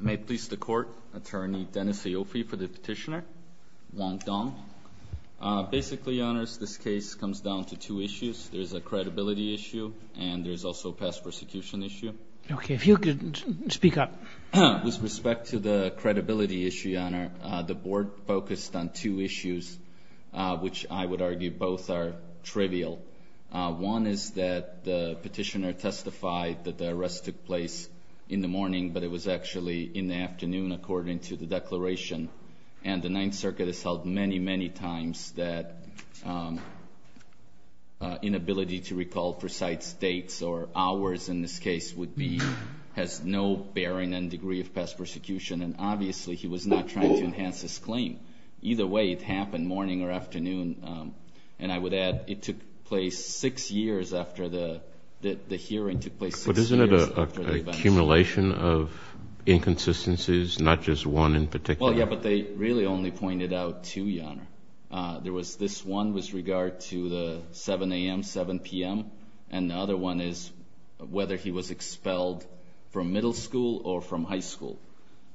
May it please the Court, Attorney Dennis Aoife for the Petitioner, Wang Dong. Basically, Your Honor, this case comes down to two issues. There's a credibility issue and there's also a past persecution issue. Okay, if you could speak up. With respect to the credibility issue, Your Honor, the Board focused on two issues, which I would argue both are trivial. One is that the Petitioner testified that the arrest took place in the morning, but it was actually in the afternoon according to the declaration. And the Ninth Circuit has held many, many times that inability to recall precise dates or hours in this case would be, has no bearing and degree of past persecution. And obviously, he was not trying to enhance his claim. Either way, it happened morning or afternoon, and I would add it took place six years after the hearing took place. But isn't it an accumulation of inconsistencies, not just one in particular? Well, yeah, but they really only pointed out two, Your Honor. There was this one with regard to the 7 a.m., 7 p.m., and the other one is whether he was expelled from middle school or from high school.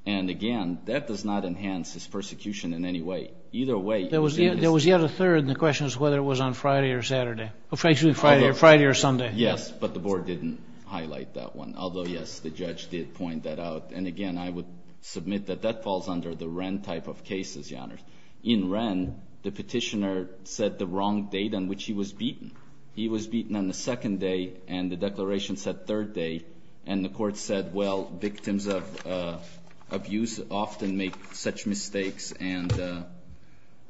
And again, that does not enhance his persecution in any way. Either way, it was in this case. There was yet a third, and the question is whether it was on Friday or Saturday. Actually, Friday or Sunday. Yes, but the Board didn't highlight that one, although, yes, the judge did point that out. And again, I would submit that that falls under the Wren type of cases, Your Honor. In Wren, the Petitioner said the wrong date on which he was beaten. He was beaten on the second day, and the declaration said third day. And the court said, well, victims of abuse often make such mistakes, and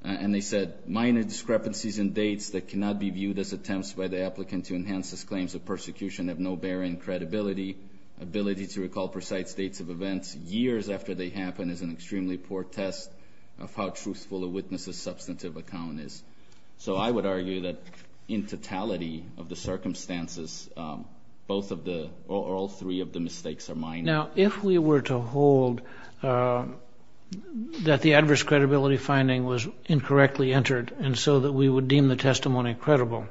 they said, minor discrepancies in dates that cannot be viewed as attempts by the applicant to enhance his claims of persecution have no bearing. Credibility, ability to recall precise dates of events years after they happen is an extremely poor test of how truthful a witness's substantive account is. So I would argue that in totality of the circumstances, all three of the mistakes are minor. Now, if we were to hold that the adverse credibility finding was incorrectly entered and so that we would deem the testimony credible,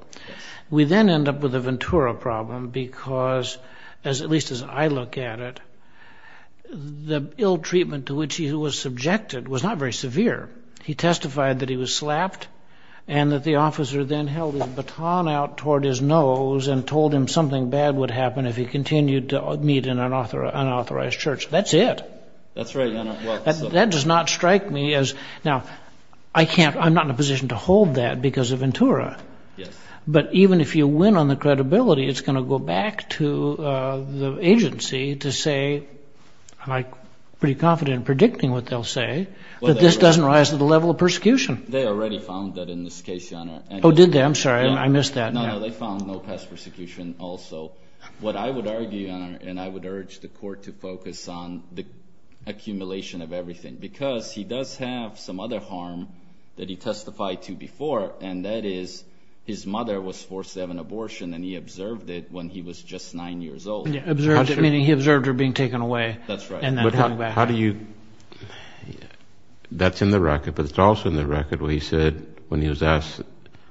we then end up with a Ventura problem because, at least as I look at it, the ill treatment to which he was subjected was not very severe. He testified that he was slapped and that the officer then held his baton out toward his nose and told him something bad would happen if he continued to meet in an unauthorized church. That's it. That's right, Your Honor. That does not strike me as – now, I can't – I'm not in a position to hold that because of Ventura. Yes. But even if you win on the credibility, it's going to go back to the agency to say, I'm pretty confident in predicting what they'll say, that this doesn't rise to the level of persecution. They already found that in this case, Your Honor. Oh, did they? I'm sorry. I missed that. No, they found no past persecution also. What I would argue, Your Honor, and I would urge the court to focus on the accumulation of everything because he does have some other harm that he testified to before, and that is his mother was forced to have an abortion and he observed it when he was just nine years old. Observed it, meaning he observed her being taken away. That's right. How do you – that's in the record, but it's also in the record where he said when he was asked,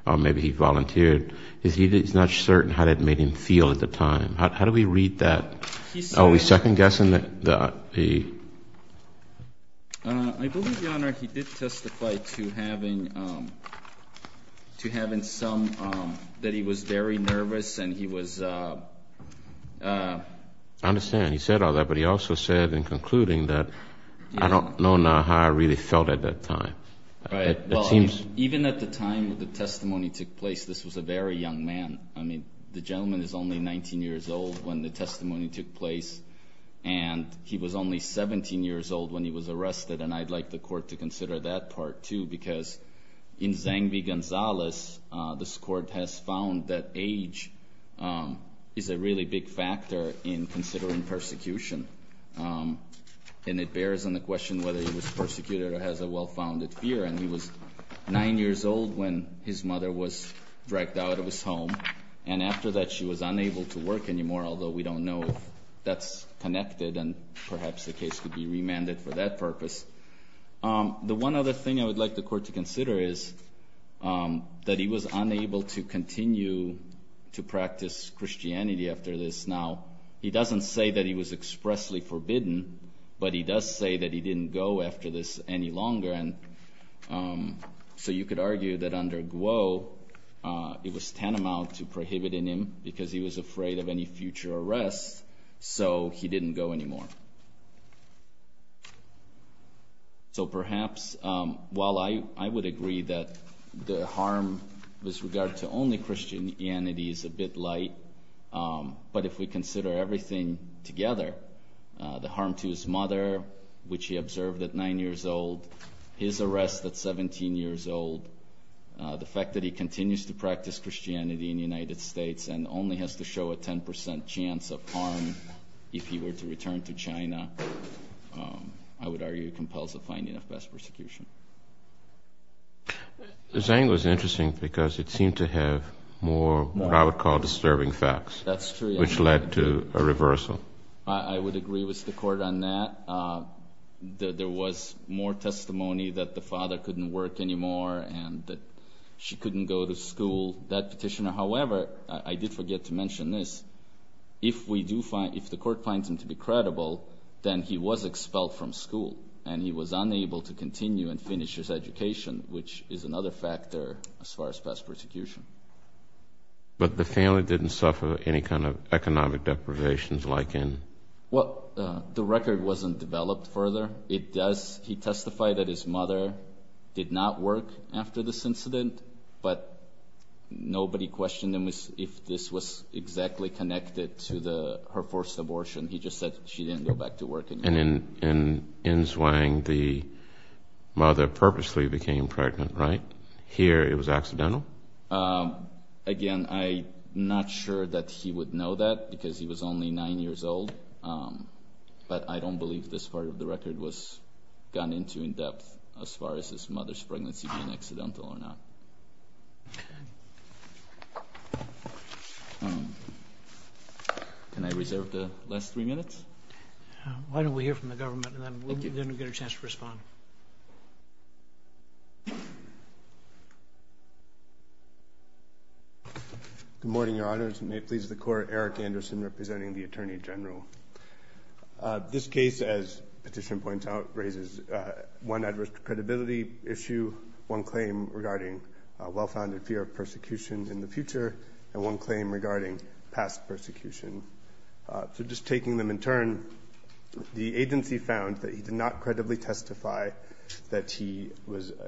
or maybe he volunteered, he's not certain how that made him feel at the time. How do we read that? He said – Are we second-guessing the – I understand. He said all that, but he also said in concluding that I don't know now how I really felt at that time. Right. Even at the time the testimony took place, this was a very young man. I mean, the gentleman is only 19 years old when the testimony took place, and he was only 17 years old when he was arrested, and I'd like the court to consider that part, too, because in Zang v. Gonzalez, this court has found that age is a really big factor in considering persecution, and it bears on the question whether he was persecuted or has a well-founded fear, and he was nine years old when his mother was dragged out of his home, and after that she was unable to work anymore, although we don't know if that's connected, and perhaps the case could be remanded for that purpose. The one other thing I would like the court to consider is that he was unable to continue to practice Christianity after this. Now, he doesn't say that he was expressly forbidden, but he does say that he didn't go after this any longer, and so you could argue that under Guo it was tantamount to prohibiting him because he was afraid of any future arrests, so he didn't go anymore. So perhaps while I would agree that the harm with regard to only Christianity is a bit light, but if we consider everything together, the harm to his mother, which he observed at nine years old, his arrest at 17 years old, the fact that he continues to practice Christianity in the United States and only has to show a 10% chance of harm if he were to return to China, I would argue compels a finding of best persecution. The saying was interesting because it seemed to have more what I would call disturbing facts. That's true. Which led to a reversal. I would agree with the court on that. There was more testimony that the father couldn't work anymore and that she couldn't go to school. That petitioner, however, I did forget to mention this, if the court finds him to be credible, then he was expelled from school and he was unable to continue and finish his education, which is another factor as far as best persecution. But the family didn't suffer any kind of economic deprivations like in? Well, the record wasn't developed further. He testified that his mother did not work after this incident, but nobody questioned him if this was exactly connected to her forced abortion. He just said she didn't go back to work anymore. And in? In? In? In? In? In? In? In? In? In? In? In? In? In? In? I don't know if this was gone into in depth as far as his mother's pregnancy being accidental or not. Okay. Can I reserve the last three minutes? Why don't we hear from the government and then we'll get a chance to respond. Good morning, Your Honors. May it please the Court, Eric Anderson representing the Attorney General. This case, as the petition points out, raises one adverse credibility issue, one claim regarding well-founded fear of persecution in the future, and one claim regarding past persecution. So just taking them in turn, the agency found that he did not credibly testify that he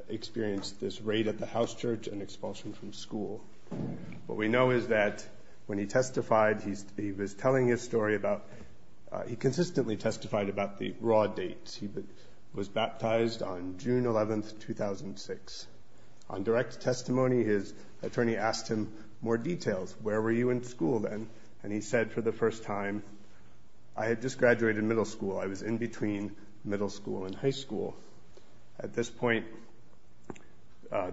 experienced this raid at the house church and expulsion from school. What we know is that when he testified, he was telling his story about he consistently testified about the raw dates. He was baptized on June 11, 2006. On direct testimony, his attorney asked him more details. Where were you in school then? And he said for the first time, I had just graduated middle school. I was in between middle school and high school. At this point,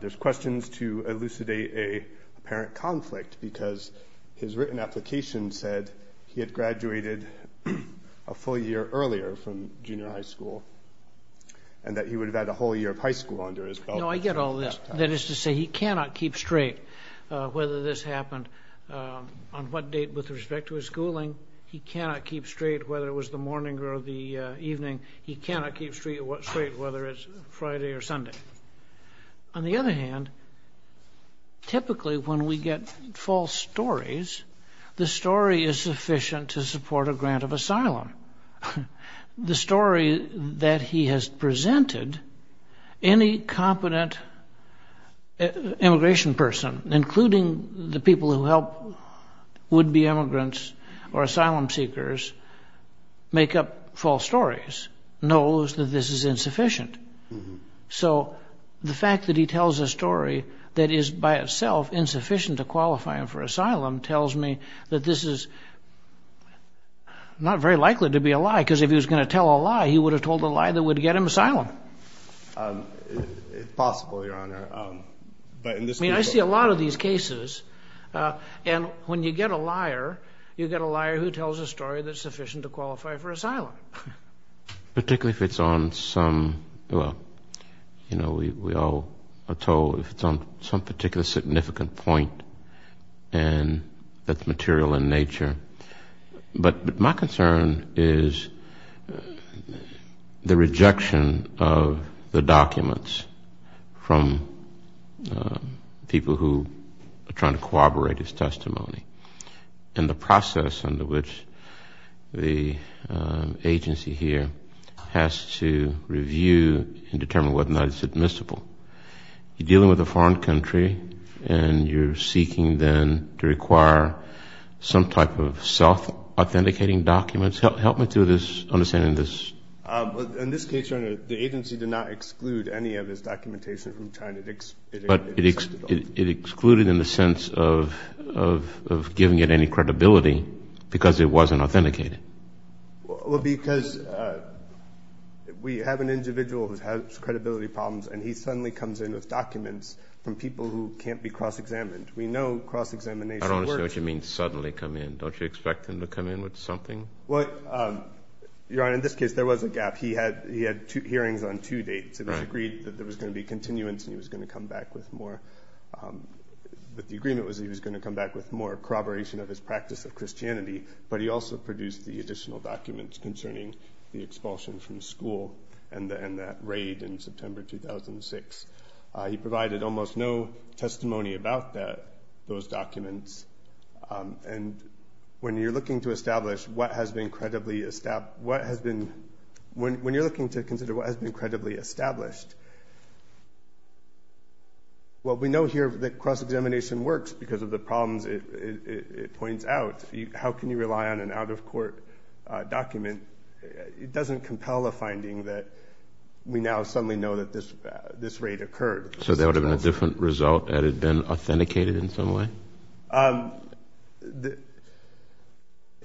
there's questions to elucidate a parent conflict because his written application said he had graduated a full year earlier from junior high school and that he would have had a whole year of high school under his belt. No, I get all this. That is to say, he cannot keep straight whether this happened on what date with respect to his schooling. He cannot keep straight whether it was the morning or the evening. He cannot keep straight whether it's Friday or Sunday. On the other hand, typically when we get false stories, the story is sufficient to support a grant of asylum. The story that he has presented, any competent immigration person, including the people who help would-be immigrants or asylum seekers, make up false stories, knows that this is insufficient. So the fact that he tells a story that is by itself insufficient to qualify him for asylum tells me that this is not very likely to be a lie because if he was going to tell a lie, he would have told a lie that would get him asylum. It's possible, Your Honor. I mean, I see a lot of these cases. And when you get a liar, you get a liar who tells a story that's sufficient to qualify for asylum. Particularly if it's on some, well, you know, we all are told if it's on some particular significant point and that's material in nature. But my concern is the rejection of the documents from people who are trying to corroborate his testimony and the process under which the agency here has to review and determine whether or not it's admissible. You're dealing with a foreign country and you're seeking then to require some type of self-authenticating documents. Help me to understand this. In this case, Your Honor, the agency did not exclude any of his documentation from China. But it excluded in the sense of giving it any credibility because it wasn't authenticated. Well, because we have an individual who has credibility problems and he suddenly comes in with documents from people who can't be cross-examined. We know cross-examination works. I don't understand what you mean, suddenly come in. Don't you expect him to come in with something? Well, Your Honor, in this case, there was a gap. He had hearings on two dates. It was agreed that there was going to be continuance and he was going to come back with more. But the agreement was he was going to come back with more corroboration of his practice of Christianity. But he also produced the additional documents concerning the expulsion from school and that raid in September 2006. He provided almost no testimony about those documents. And when you're looking to consider what has been credibly established, well, we know here that cross-examination works because of the problems it points out. How can you rely on an out-of-court document? It doesn't compel a finding that we now suddenly know that this raid occurred. So there would have been a different result had it been authenticated in some way?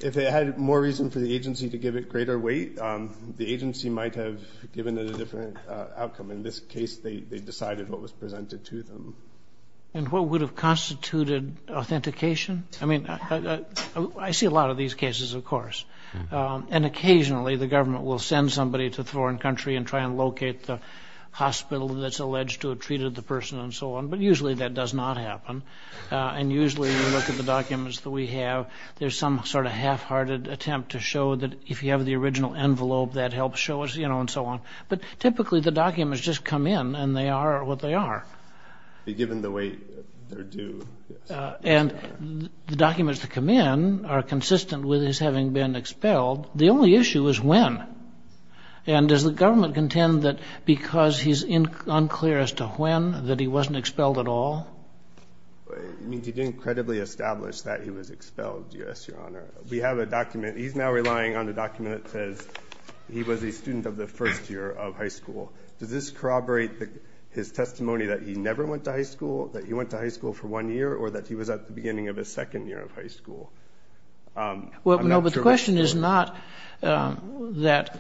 If it had more reason for the agency to give it greater weight, the agency might have given it a different outcome. In this case, they decided what was presented to them. And what would have constituted authentication? I mean, I see a lot of these cases, of course. And occasionally the government will send somebody to a foreign country and try and locate the hospital that's alleged to have treated the person and so on. But usually that does not happen. And usually when you look at the documents that we have, there's some sort of half-hearted attempt to show that if you have the original envelope, that helps show us, you know, and so on. But typically the documents just come in and they are what they are. Given the way they're due, yes. And the documents that come in are consistent with his having been expelled. The only issue is when. And does the government contend that because he's unclear as to when, that he wasn't expelled at all? You didn't credibly establish that he was expelled, yes, Your Honor. We have a document. He's now relying on a document that says he was a student of the first year of high school. Does this corroborate his testimony that he never went to high school, that he went to high school for one year or that he was at the beginning of his second year of high school? Well, no, but the question is not that.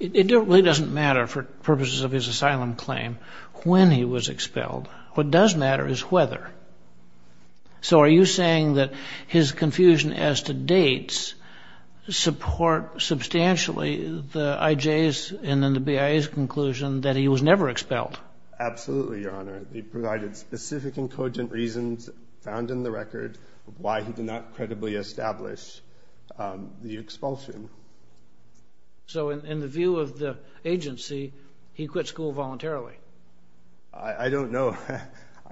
It really doesn't matter for purposes of his asylum claim when he was expelled. What does matter is whether. So are you saying that his confusion as to dates support substantially the IJ's and then the BIA's conclusion that he was never expelled? Absolutely, Your Honor. They provided specific and cogent reasons found in the record of why he did not credibly establish the expulsion. So in the view of the agency, he quit school voluntarily? I don't know.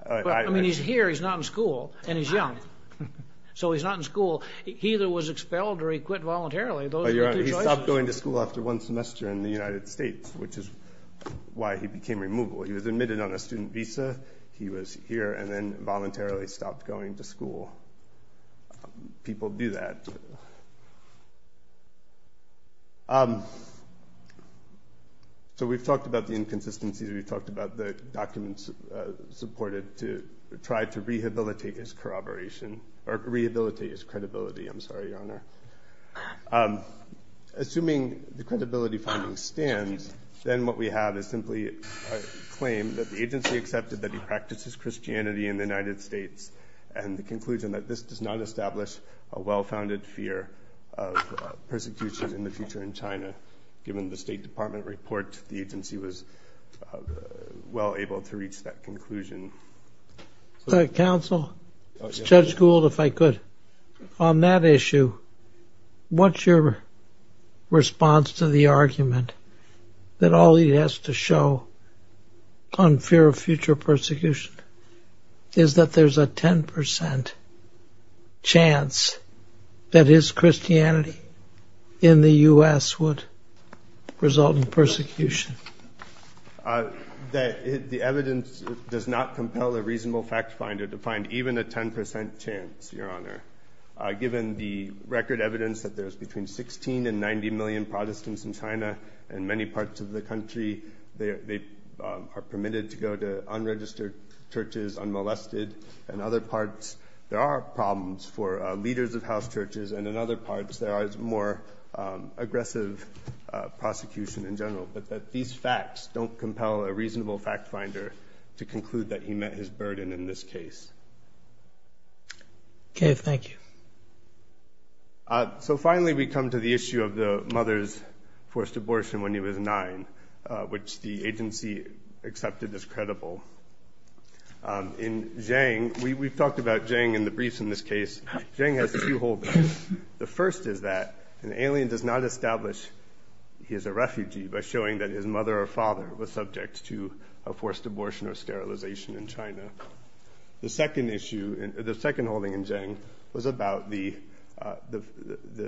I mean, he's here. He's not in school. And he's young. So he's not in school. He either was expelled or he quit voluntarily. He stopped going to school after one semester in the United States, which is why he became removable. He was admitted on a student visa. He was here and then voluntarily stopped going to school. People do that. So we've talked about the inconsistencies. We've talked about the documents supported to try to rehabilitate his corroboration or rehabilitate his credibility. I'm sorry, Your Honor. Assuming the credibility finding stands, then what we have is simply a claim that the agency accepted that he practices Christianity in the United States and the conclusion that this does not establish a well-founded fear of persecution in the future in China. Given the State Department report, the agency was well able to reach that conclusion. Counsel? Is Judge Gould, if I could? On that issue, what's your response to the argument that all he has to show on fear of future persecution is that there's a 10 percent chance that his Christianity in the U.S. would result in persecution? The evidence does not compel a reasonable fact finder to find even a 10 percent chance, Your Honor. Given the record evidence that there's between 16 and 90 million Protestants in China and many parts of the country, they are permitted to go to unregistered churches, unmolested. In other parts, there are problems for leaders of house churches, and in other parts there is more aggressive prosecution in general. But these facts don't compel a reasonable fact finder to conclude that he met his burden in this case. Okay, thank you. So finally we come to the issue of the mother's forced abortion when he was nine, which the agency accepted as credible. In Zhang, we've talked about Zhang in the briefs in this case. Zhang has a few holdups. The first is that an alien does not establish he is a refugee by showing that his mother or father was subject to a forced abortion or sterilization in China. The second issue, the second holding in Zhang was about the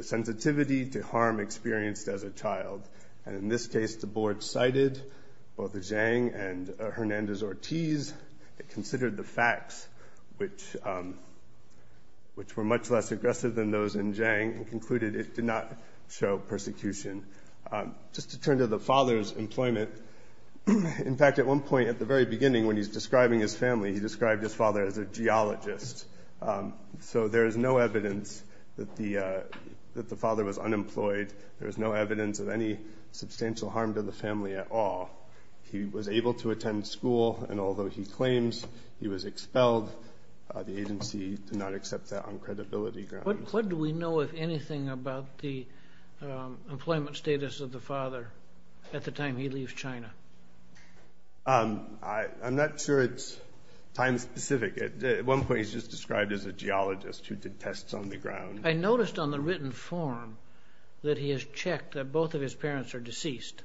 sensitivity to harm experienced as a child. And in this case, the board cited both Zhang and Hernandez-Ortiz, considered the facts, which were much less aggressive than those in Zhang, and concluded it did not show persecution. Just to turn to the father's employment, in fact, at one point at the very beginning, when he's describing his family, he described his father as a geologist. So there is no evidence that the father was unemployed. There is no evidence of any substantial harm to the family at all. He was able to attend school, and although he claims he was expelled, the agency did not accept that on credibility grounds. What do we know, if anything, about the employment status of the father at the time he leaves China? I'm not sure it's time-specific. At one point, he's just described as a geologist who did tests on the ground. I noticed on the written form that he has checked that both of his parents are deceased.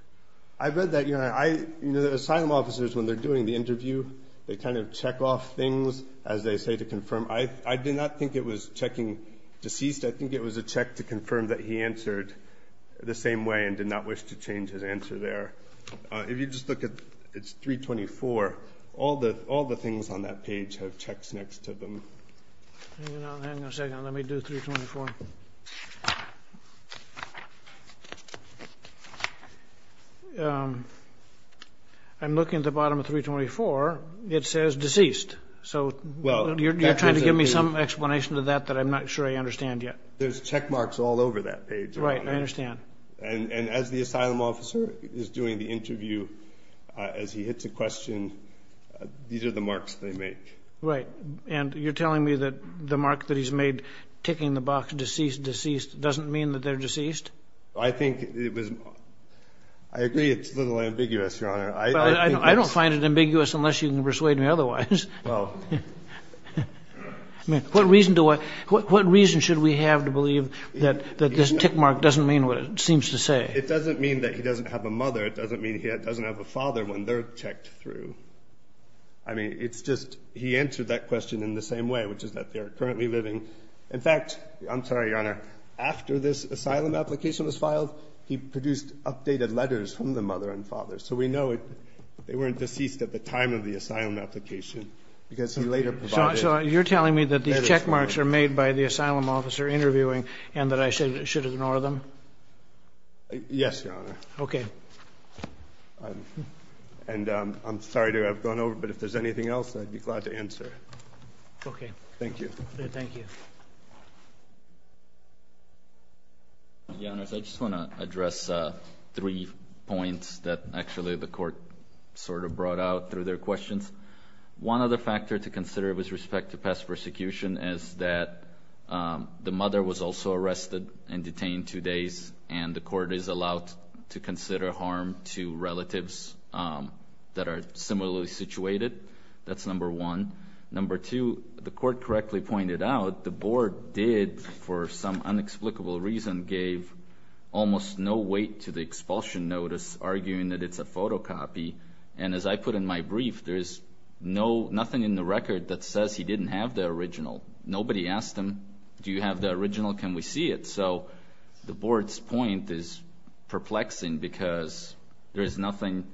I read that. You know, the asylum officers, when they're doing the interview, they kind of check off things as they say to confirm. I did not think it was checking deceased. I think it was a check to confirm that he answered the same way and did not wish to change his answer there. If you just look at 324, all the things on that page have checks next to them. Hang on a second. Let me do 324. I'm looking at the bottom of 324. It says deceased, so you're trying to give me some explanation to that that I'm not sure I understand yet. There's check marks all over that page. Right, I understand. And as the asylum officer is doing the interview, as he hits a question, these are the marks they make. Right, and you're telling me that the mark that he's made, ticking the box deceased, deceased, doesn't mean that they're deceased? I think it was – I agree it's a little ambiguous, Your Honor. I don't find it ambiguous unless you can persuade me otherwise. What reason should we have to believe that this tick mark doesn't mean what it seems to say? It doesn't mean that he doesn't have a mother. It doesn't mean he doesn't have a father when they're checked through. I mean, it's just he answered that question in the same way, which is that they're currently living. In fact, I'm sorry, Your Honor, after this asylum application was filed, he produced updated letters from the mother and father, so we know they weren't deceased at the time of the asylum application because he later provided letters. So you're telling me that these check marks are made by the asylum officer interviewing and that I should ignore them? Yes, Your Honor. Okay. And I'm sorry to have gone over, but if there's anything else, I'd be glad to answer. Okay. Thank you. Thank you. Your Honor, I just want to address three points that actually the court sort of brought out through their questions. One other factor to consider with respect to past persecution is that the mother was also arrested and detained two days, and the court is allowed to consider harm to relatives that are similarly situated. That's number one. Number two, the court correctly pointed out the board did, for some inexplicable reason, gave almost no weight to the expulsion notice, arguing that it's a photocopy. And as I put in my brief, there's nothing in the record that says he didn't have the original. Nobody asked him, do you have the original, can we see it? So the board's point is perplexing because there is nothing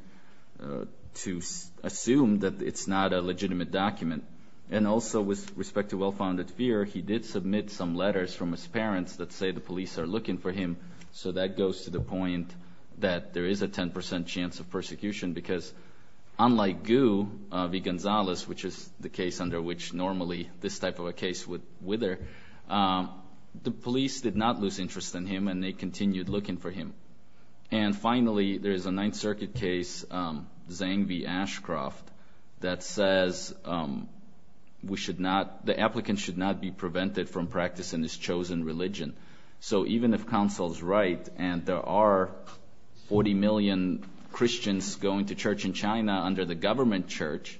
to assume that it's not a legitimate document. And also, with respect to well-founded fear, he did submit some letters from his parents that say the police are looking for him. So that goes to the point that there is a 10% chance of persecution because, unlike Gu, V. Gonzalez, which is the case under which normally this type of a case would wither, the police did not lose interest in him and they continued looking for him. And finally, there is a Ninth Circuit case, Zang v. Ashcroft, that says the applicant should not be prevented from practicing his chosen religion. So even if counsel's right and there are 40 million Christians going to church in China under the government church,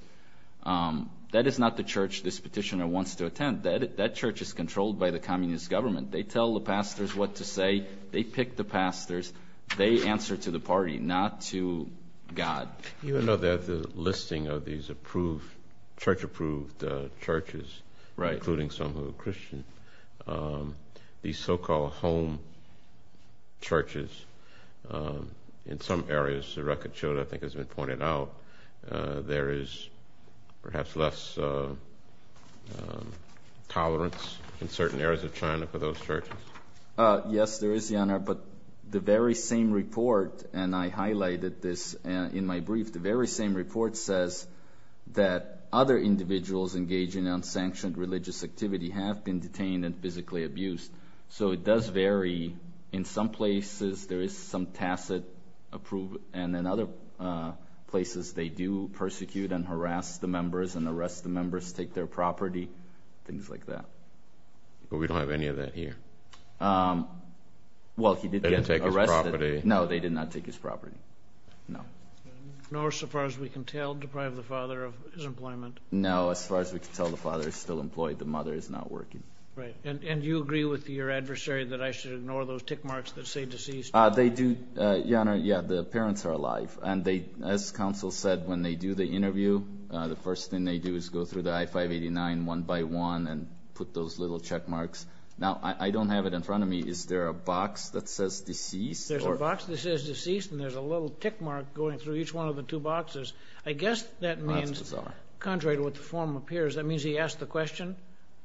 that is not the church this petitioner wants to attend. That church is controlled by the communist government. They tell the pastors what to say. They pick the pastors. They answer to the party, not to God. Even though they have the listing of these approved, church-approved churches, including some who are Christian, these so-called home churches, in some areas, the record shows, I think has been pointed out, there is perhaps less tolerance in certain areas of China for those churches. But the very same report, and I highlighted this in my brief, the very same report says that other individuals engaging in unsanctioned religious activity have been detained and physically abused. So it does vary. In some places, there is some tacit approval, and in other places, they do persecute and harass the members and arrest the members, take their property, things like that. But we don't have any of that here. Well, he did get arrested. They didn't take his property. No, they did not take his property, no. Nor, so far as we can tell, deprive the father of his employment. No, as far as we can tell, the father is still employed. The mother is not working. And do you agree with your adversary that I should ignore those tick marks that say deceased? They do. Yeah, the parents are alive. And as counsel said, when they do the interview, the first thing they do is go through the I-589 one by one and put those little check marks. Now, I don't have it in front of me. Is there a box that says deceased? There's a box that says deceased, and there's a little tick mark going through each one of the two boxes. I guess that means, contrary to what the form appears, that means he asked the question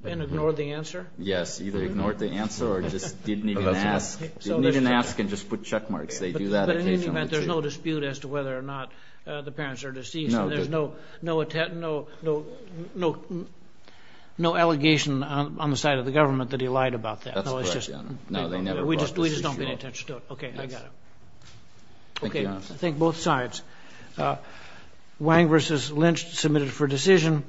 and ignored the answer. Yes, either ignored the answer or just didn't even ask. Didn't even ask and just put check marks. They do that occasionally. But in any event, there's no dispute as to whether or not the parents are deceased. And there's no allegation on the side of the government that he lied about that. That's correct, Your Honor. No, they never brought this issue up. We just don't pay any attention to it. Okay, I got it. Thank you, Your Honor. Okay, I think both sides. Wang v. Lynch submitted for decision.